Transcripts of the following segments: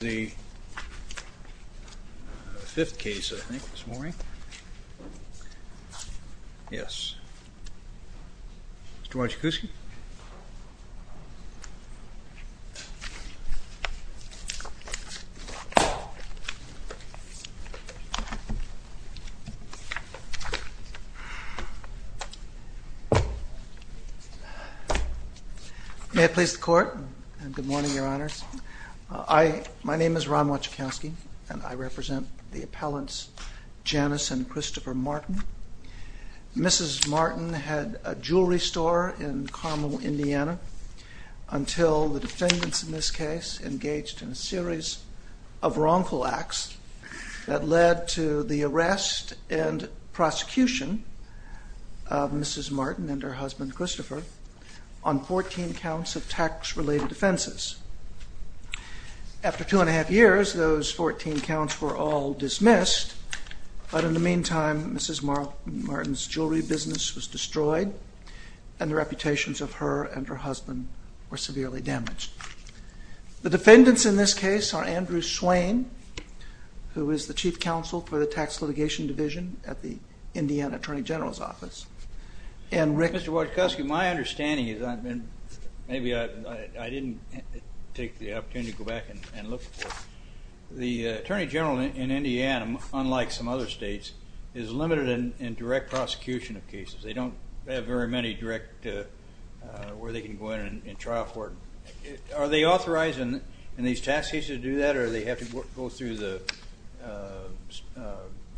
The fifth case, I think, this morning. Yes. Mr. Marchakowski? May I please the court? Good morning, Your Honours. My name is Ron Marchakowski, and I represent the appellants Janice and Christopher Marten. Mrs. Marten had a jewelry store in Carmel, Indiana, until the defendants in this case engaged in a series of wrongful acts that led to the arrest and prosecution of Mrs. Marten and her husband Christopher on 14 counts of tax-related offenses. After two and a half years, those 14 counts were all dismissed, but in the meantime, Mrs. Marten's jewelry business was destroyed, and the reputations of her and her husband were severely damaged. The defendants in this case are Andrew Swain, who is the Chief Counsel for the Tax Litigation Division at the Indiana Attorney General's office, and Rick... Mr. Marchakowski, my understanding is, and maybe I didn't take the opportunity to go back and look, the Attorney General in Indiana, unlike some other states, is limited in direct prosecution of cases. They don't have very many direct where they can go in and try for it. Are they authorized in these tax cases to do that, or do they have to go through the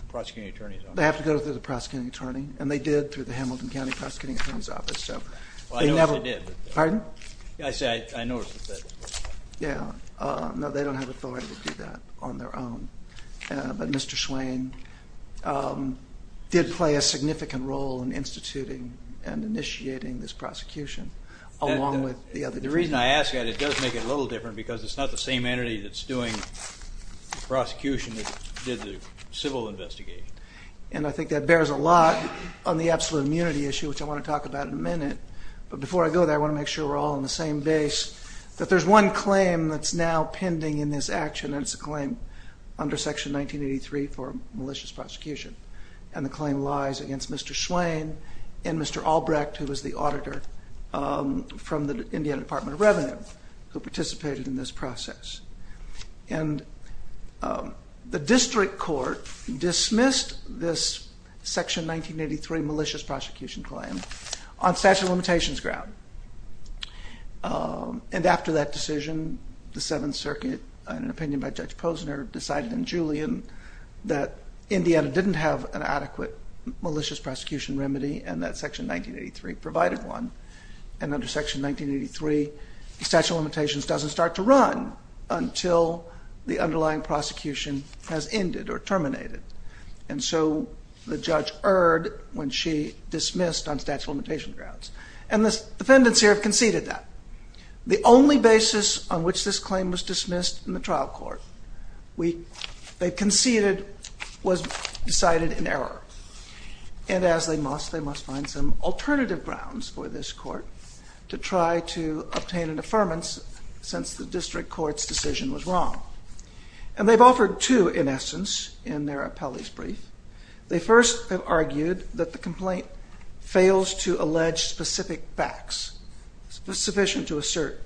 prosecuting attorney's office? They have to go through the prosecuting attorney, and they did through the Hamilton County Prosecuting Attorney's Office. Well, I know they did. Pardon? I said I noticed that. Yeah. No, they don't have authority to do that on their own, but Mr. Swain did play a significant role in instituting and initiating this prosecution along with the other divisions. The reason I ask that, it does make it a little different because it's not the same entity that's doing prosecution that did the civil investigation. And I think that bears a lot on the absolute immunity issue, which I want to talk about in a minute, but before I go there, I want to make sure we're all on the same base, that there's one claim that's now pending in this action, and it's a claim under Section 1983 for malicious prosecution. And the claim lies against Mr. Swain and Mr. Albrecht, who was the auditor from the Indiana Department of Revenue, who participated in this process. And the district court dismissed this Section 1983 malicious prosecution claim on statute of limitations ground. And after that decision, the Seventh Circuit, in an opinion by Judge Posner, decided in Julian that Indiana didn't have an adequate malicious prosecution remedy, and that Section 1983 provided one. And under Section 1983, the statute of limitations doesn't start to run until the underlying prosecution has ended or terminated. And so the judge erred when she dismissed on statute of limitations grounds. And the defendants here have conceded that. The only basis on which this claim was dismissed in the trial court, they conceded, was decided in error. And as they must, they must find some alternative grounds for this court to try to obtain an affirmance since the district court's decision was wrong. And they've offered two, in essence, in their appellee's brief. They first have argued that the complaint fails to allege specific facts sufficient to assert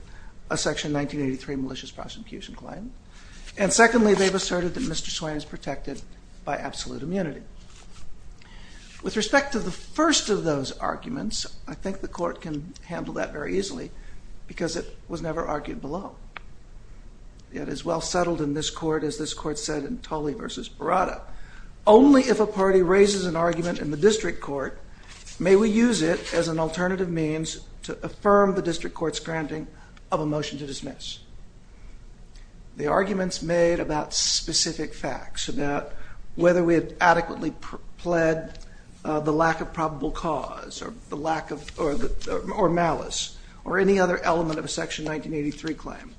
a Section 1983 malicious prosecution claim. And secondly, they've asserted that Mr. Swain is protected by absolute immunity. With respect to the first of those arguments, I think the court can handle that very easily because it was never argued below. Yet as well settled in this court as this court said in Tully v. Baratta, only if a party raises an argument in the district court may we use it as an alternative means to affirm the district court's granting of a motion to dismiss. The arguments made about specific facts, about whether we had adequately pled the lack of probable cause or malice or any other element of a Section 1983 claim,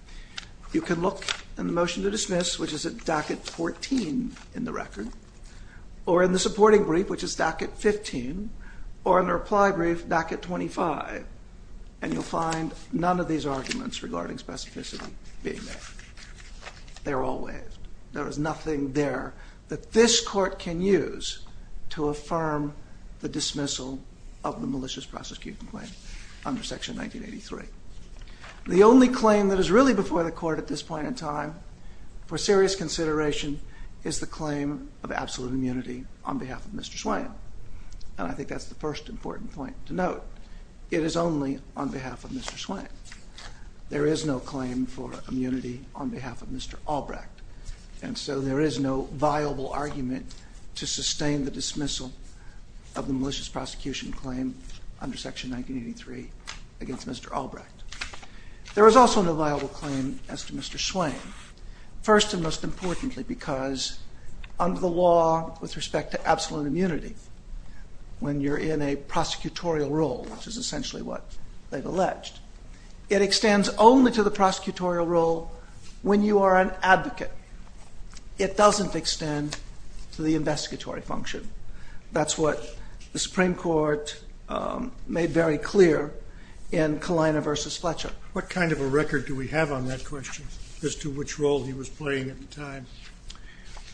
you can look in the motion to dismiss, which is at docket 14 in the record, or in the supporting brief, which is docket 15, or in the reply brief, docket 25, and you'll find none of these arguments regarding specificity being made. They're all waived. There is nothing there that this court can use to affirm the dismissal of the malicious prosecution claim under Section 1983. The only claim that is really before the court at this point in time for serious consideration is the claim of absolute immunity on behalf of Mr. Swain. However, it is only on behalf of Mr. Swain. There is no claim for immunity on behalf of Mr. Albrecht, and so there is no viable argument to sustain the dismissal of the malicious prosecution claim under Section 1983 against Mr. Albrecht. There is also no viable claim as to Mr. Swain, first and most importantly because under the law with respect to absolute immunity, when you're in a prosecutorial role, which is essentially what they've alleged, it extends only to the prosecutorial role when you are an advocate. It doesn't extend to the investigatory function. That's what the Supreme Court made very clear in Kalina v. Fletcher. What kind of a record do we have on that question as to which role he was playing at the time?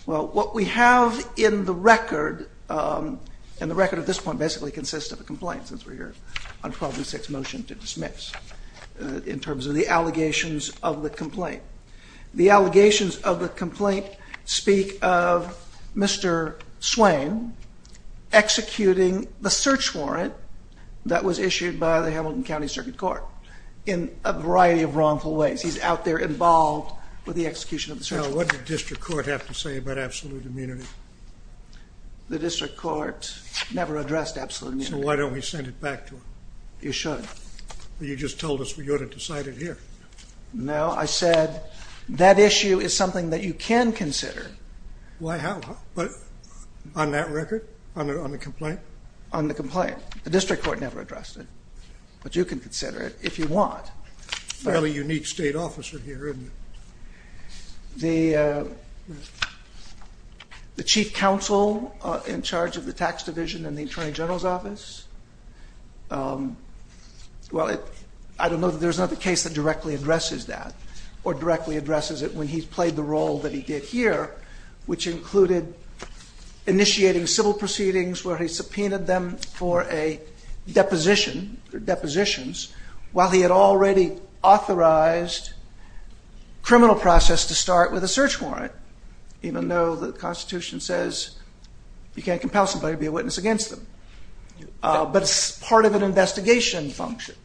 Well, what we have in the record, and the record at this point basically consists of a complaint since we're here on 1206 motion to dismiss, in terms of the allegations of the complaint. The allegations of the complaint speak of Mr. Swain executing the search warrant that was issued by the Hamilton County Circuit Court in a variety of wrongful ways. He's out there involved with the execution of the search warrant. So what did the district court have to say about absolute immunity? The district court never addressed absolute immunity. So why don't we send it back to him? You should. You just told us we ought to decide it here. No, I said that issue is something that you can consider. Why, how? On that record? On the complaint? On the complaint. The district court never addressed it. But you can consider it if you want. Fairly unique state officer here, isn't he? The chief counsel in charge of the tax division in the attorney general's office. Well, I don't know that there's another case that directly addresses that or directly addresses it when he's played the role that he did here, which included initiating civil proceedings where he subpoenaed them for a deposition, while he had already authorized criminal process to start with a search warrant, even though the Constitution says you can't compel somebody to be a witness against them. But it's part of an investigation function.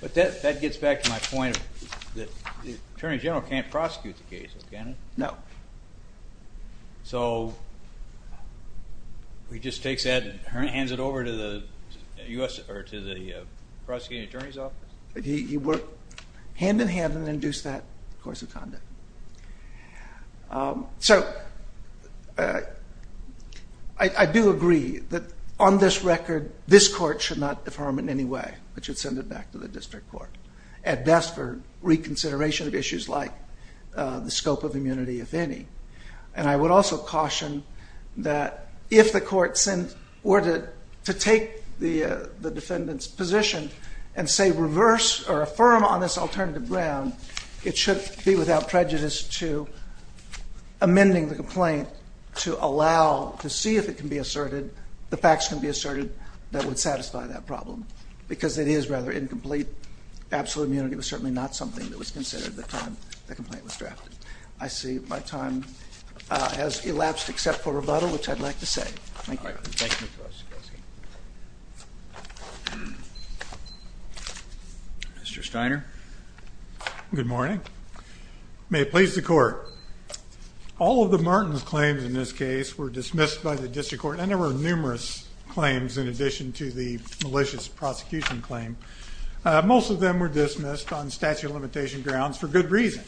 But that gets back to my point that the attorney general can't prosecute the case, can he? No. So he just takes that and hands it over to the prosecuting attorney's office? He worked hand-in-hand and induced that course of conduct. So I do agree that on this record, this court should not defer him in any way. It should send it back to the district court, at best for reconsideration of issues like the scope of immunity, if any. And I would also caution that if the court were to take the defendant's position and, say, reverse or affirm on this alternative ground, it should be without prejudice to amending the complaint to allow, to see if it can be asserted, the facts can be asserted that would satisfy that problem, because it is rather incomplete. Absolute immunity was certainly not something that was considered at the time the complaint was drafted. I see my time has elapsed except for rebuttal, which I'd like to say. Thank you. Mr. Steiner? Good morning. May it please the Court. All of the Martins' claims in this case were dismissed by the district court, and there were numerous claims in addition to the malicious prosecution claim. Most of them were dismissed on statute of limitation grounds for good reason.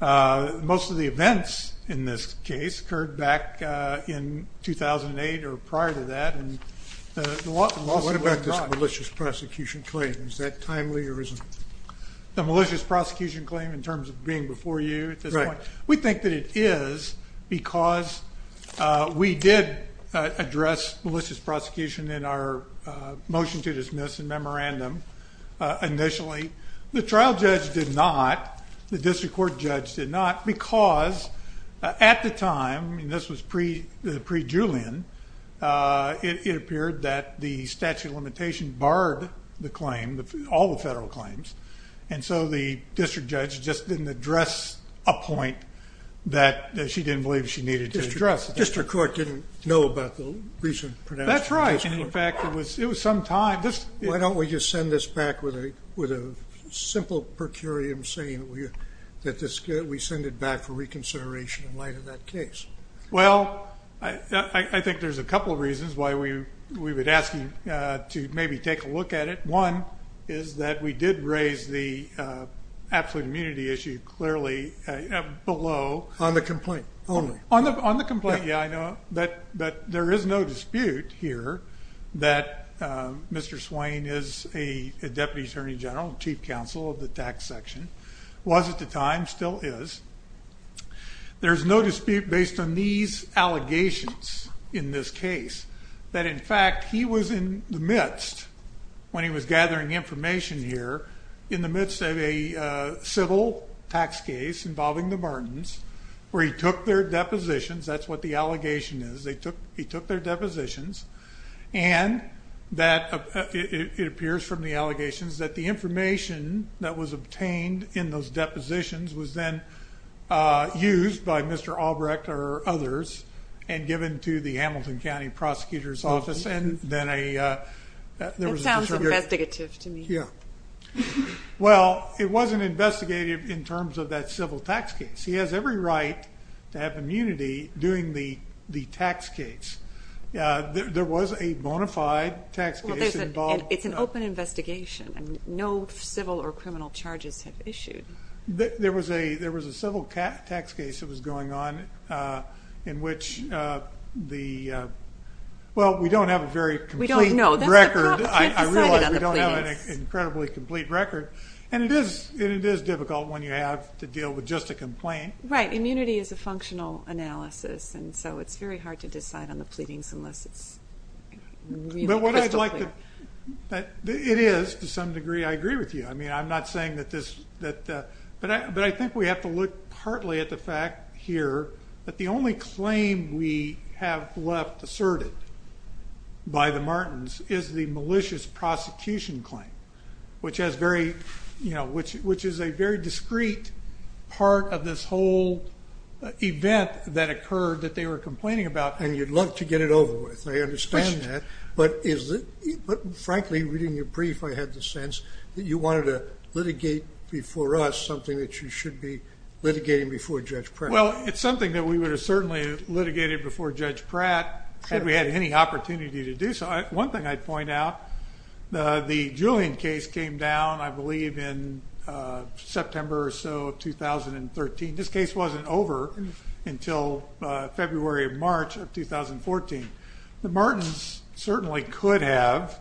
Most of the events in this case occurred back in 2008 or prior to that. What about this malicious prosecution claim? Is that timely or is it? The malicious prosecution claim in terms of being before you at this point? Right. We think that it is because we did address malicious prosecution in our motion to dismiss and memorandum initially. The trial judge did not, the district court judge did not, because at the time, and this was pre-Julian, it appeared that the statute of limitation barred the claim, all the federal claims, and so the district judge just didn't address a point that she didn't believe she needed to address. The district court didn't know about the recent pronouncement. That's right. In fact, it was some time. Why don't we just send this back with a simple per curiam saying that we send it back for reconsideration in light of that case? Well, I think there's a couple of reasons why we would ask you to maybe take a look at it. One is that we did raise the absolute immunity issue clearly below. On the complaint only. On the complaint, yeah, I know. But there is no dispute here that Mr. Swain is a deputy attorney general, chief counsel of the tax section, was at the time, still is. There's no dispute based on these allegations in this case that, in fact, he was in the midst when he was gathering information here, in the midst of a civil tax case involving the Martins where he took their depositions. That's what the allegation is. He took their depositions, and it appears from the allegations that the information that was obtained in those depositions was then used by Mr. Albrecht or others That sounds investigative to me. Yeah. Well, it wasn't investigative in terms of that civil tax case. He has every right to have immunity during the tax case. There was a bona fide tax case involved. It's an open investigation. No civil or criminal charges have issued. There was a civil tax case that was going on in which the, well, we don't have a very complete record. We don't know. I realize we don't have an incredibly complete record, and it is difficult when you have to deal with just a complaint. Right. Immunity is a functional analysis, and so it's very hard to decide on the pleadings unless it's crystal clear. It is to some degree. I agree with you. I mean, I'm not saying that this, but I think we have to look partly at the fact here that the only claim we have left asserted by the Martins is the malicious prosecution claim, which is a very discreet part of this whole event that occurred that they were complaining about. And you'd love to get it over with. I understand that. But frankly, reading your brief, I had the sense that you wanted to litigate before us something that you should be litigating before Judge Pratt. Well, it's something that we would have certainly litigated before Judge Pratt had we had any opportunity to do so. One thing I'd point out, the Julian case came down, I believe, in September or so of 2013. This case wasn't over until February or March of 2014. The Martins certainly could have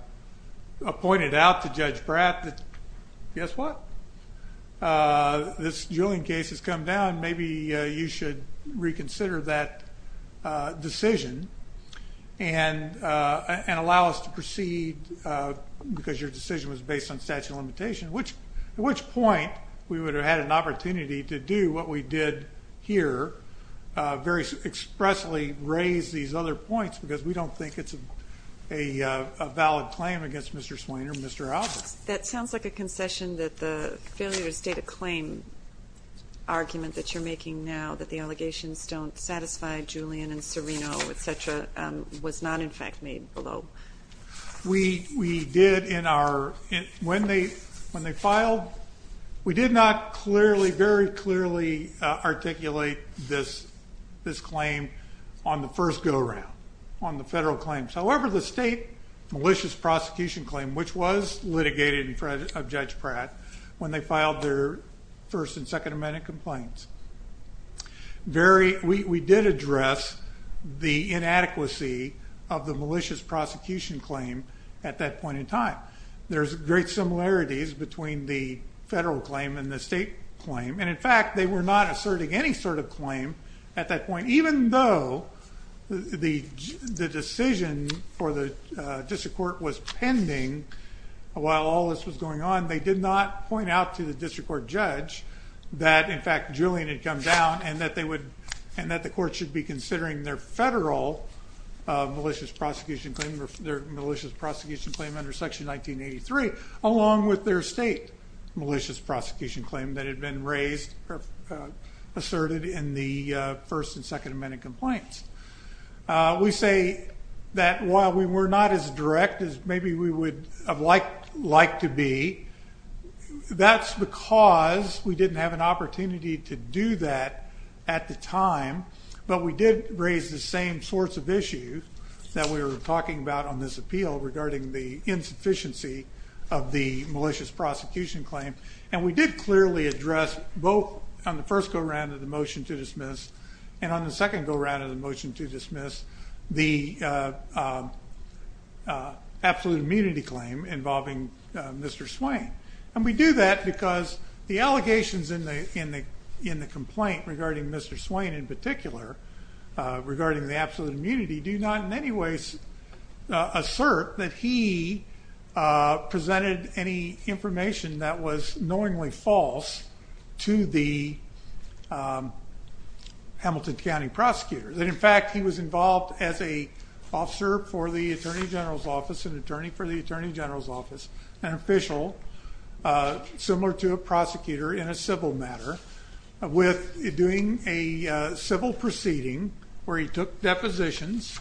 appointed out to Judge Pratt that, guess what? This Julian case has come down. Maybe you should reconsider that decision and allow us to proceed because your decision was based on statute of limitation, at which point we would have had an opportunity to do what we did here, very expressly raise these other points because we don't think it's a valid claim against Mr. Swain or Mr. Albert. That sounds like a concession that the failure to state a claim argument that you're making now, that the allegations don't satisfy Julian and Serino, et cetera, was not, in fact, made below. We did in our, when they filed, we did not clearly, very clearly articulate this claim on the first go around, on the federal claims. However, the state malicious prosecution claim, which was litigated in front of Judge Pratt, when they filed their First and Second Amendment complaints, we did address the inadequacy of the malicious prosecution claim at that point in time. There's great similarities between the federal claim and the state claim, and, in fact, they were not asserting any sort of claim at that point, even though the decision for the district court was pending while all this was going on. They did not point out to the district court judge that, in fact, Julian had come down and that they would, and that the court should be considering their federal malicious prosecution claim, their malicious prosecution claim under Section 1983, along with their state malicious prosecution claim that had been raised, asserted in the First and Second Amendment complaints. We say that while we were not as direct as maybe we would have liked to be, that's because we didn't have an opportunity to do that at the time, but we did raise the same sorts of issues that we were talking about on this appeal regarding the insufficiency of the malicious prosecution claim, and we did clearly address both on the first go around of the motion to dismiss and on the second go around of the motion to dismiss the absolute immunity claim involving Mr. Swain. And we do that because the allegations in the complaint regarding Mr. Swain in particular, regarding the absolute immunity, do not in any ways assert that he presented any information that was knowingly false to the Hamilton County prosecutors. And, in fact, he was involved as an officer for the Attorney General's office, an attorney for the Attorney General's office, an official similar to a prosecutor in a civil matter with doing a civil proceeding where he took depositions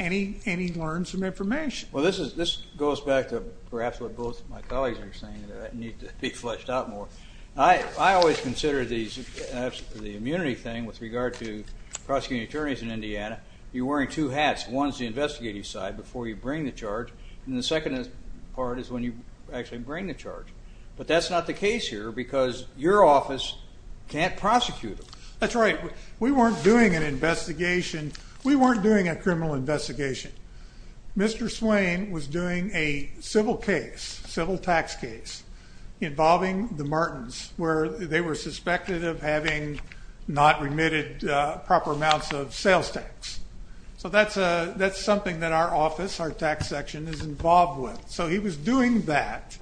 and he learned some information. Well, this goes back to perhaps what both my colleagues are saying, that it needs to be fleshed out more. I always consider the immunity thing with regard to prosecuting attorneys in Indiana, you're wearing two hats. One is the investigative side before you bring the charge, and the second part is when you actually bring the charge. But that's not the case here because your office can't prosecute them. That's right. We weren't doing an investigation. We weren't doing a criminal investigation. Mr. Swain was doing a civil case, civil tax case, involving the Martins, where they were suspected of having not remitted proper amounts of sales tax. So that's something that our office, our tax section, is involved with. So he was doing that.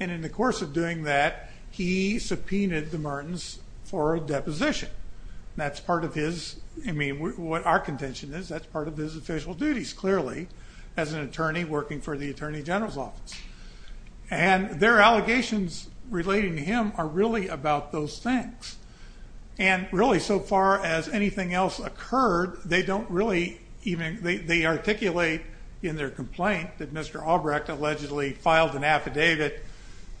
And in the course of doing that, he subpoenaed the Martins for a deposition. That's part of his, I mean, what our contention is, that's part of his official duties, clearly, as an attorney working for the Attorney General's office. And their allegations relating to him are really about those things. And really, so far as anything else occurred, they don't really even, they articulate in their complaint that Mr. Albrecht allegedly filed an affidavit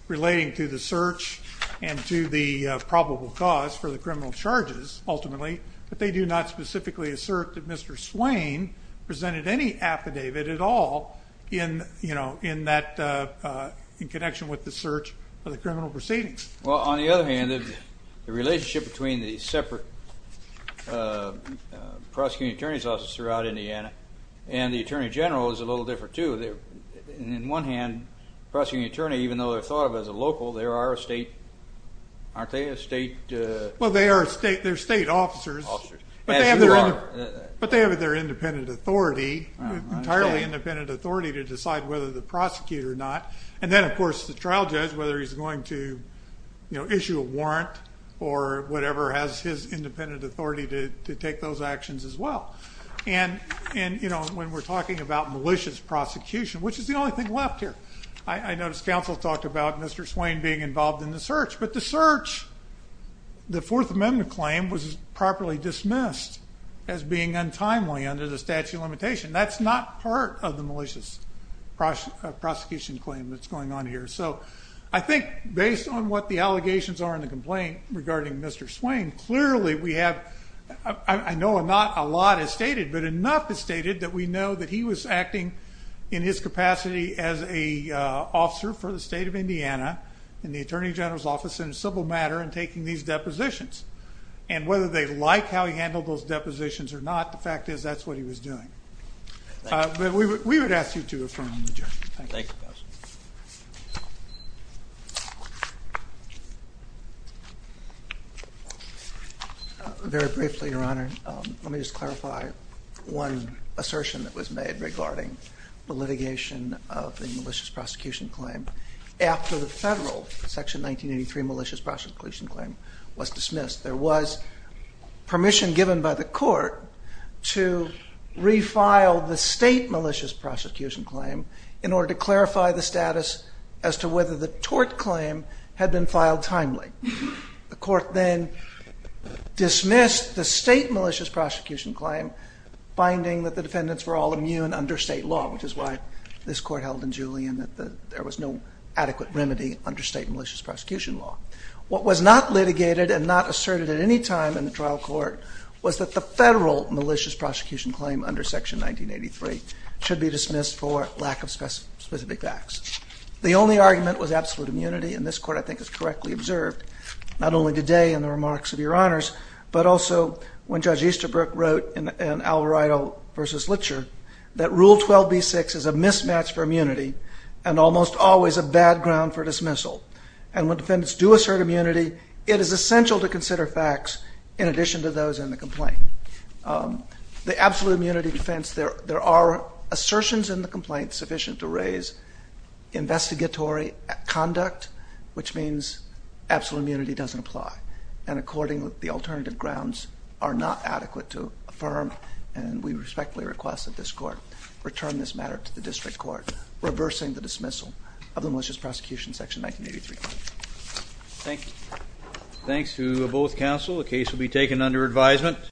relating to the search and to the probable cause for the criminal charges, ultimately, but they do not specifically assert that Mr. Swain presented any affidavit at all in that connection with the search of the criminal proceedings. Well, on the other hand, the relationship between the separate prosecuting attorney's offices throughout Indiana and the Attorney General is a little different, too. On the one hand, the prosecuting attorney, even though they're thought of as a local, they are a state, aren't they, a state? Well, they are state officers. But they have their independent authority, entirely independent authority to decide whether to prosecute or not. And then, of course, the trial judge, whether he's going to issue a warrant or whatever, has his independent authority to take those actions as well. And, you know, when we're talking about malicious prosecution, which is the only thing left here, I noticed counsel talked about Mr. Swain being involved in the search, but the search, the Fourth Amendment claim, was properly dismissed as being untimely under the statute of limitations. That's not part of the malicious prosecution claim that's going on here. So I think based on what the allegations are in the complaint regarding Mr. Swain, clearly we have, I know not a lot is stated, but enough is stated that we know that he was acting in his capacity as an officer for the state of Indiana in the Attorney General's office in a civil matter and taking these depositions. And whether they like how he handled those depositions or not, the fact is that's what he was doing. But we would ask you to affirm the judgment. Thank you. Very briefly, Your Honor, let me just clarify one assertion that was made regarding the litigation of the malicious prosecution claim. After the federal Section 1983 malicious prosecution claim was dismissed, there was permission given by the court to refile the state malicious prosecution claim in order to clarify the status as to whether the tort claim had been filed timely. The court then dismissed the state malicious prosecution claim, finding that the defendants were all immune under state law, which is why this court held in Julian that there was no adequate remedy under state malicious prosecution law. What was not litigated and not asserted at any time in the trial court was that the federal malicious prosecution claim under Section 1983 should be dismissed for lack of specific facts. The only argument was absolute immunity, and this court I think has correctly observed not only today in the remarks of Your Honors, but also when Judge Easterbrook wrote in Alvarado v. Litcher that Rule 12b-6 is a mismatch for immunity and almost always a bad ground for dismissal. And when defendants do assert immunity, it is essential to consider facts in addition to those in the complaint. The absolute immunity defense, there are assertions in the complaint sufficient to raise investigatory conduct, which means absolute immunity doesn't apply. And according to the alternative grounds are not adequate to affirm, and we respectfully request that this court return this matter to the district court, reversing the dismissal of the malicious prosecution Section 1983. Thank you. Thanks to both counsel. The case will be taken under advisement.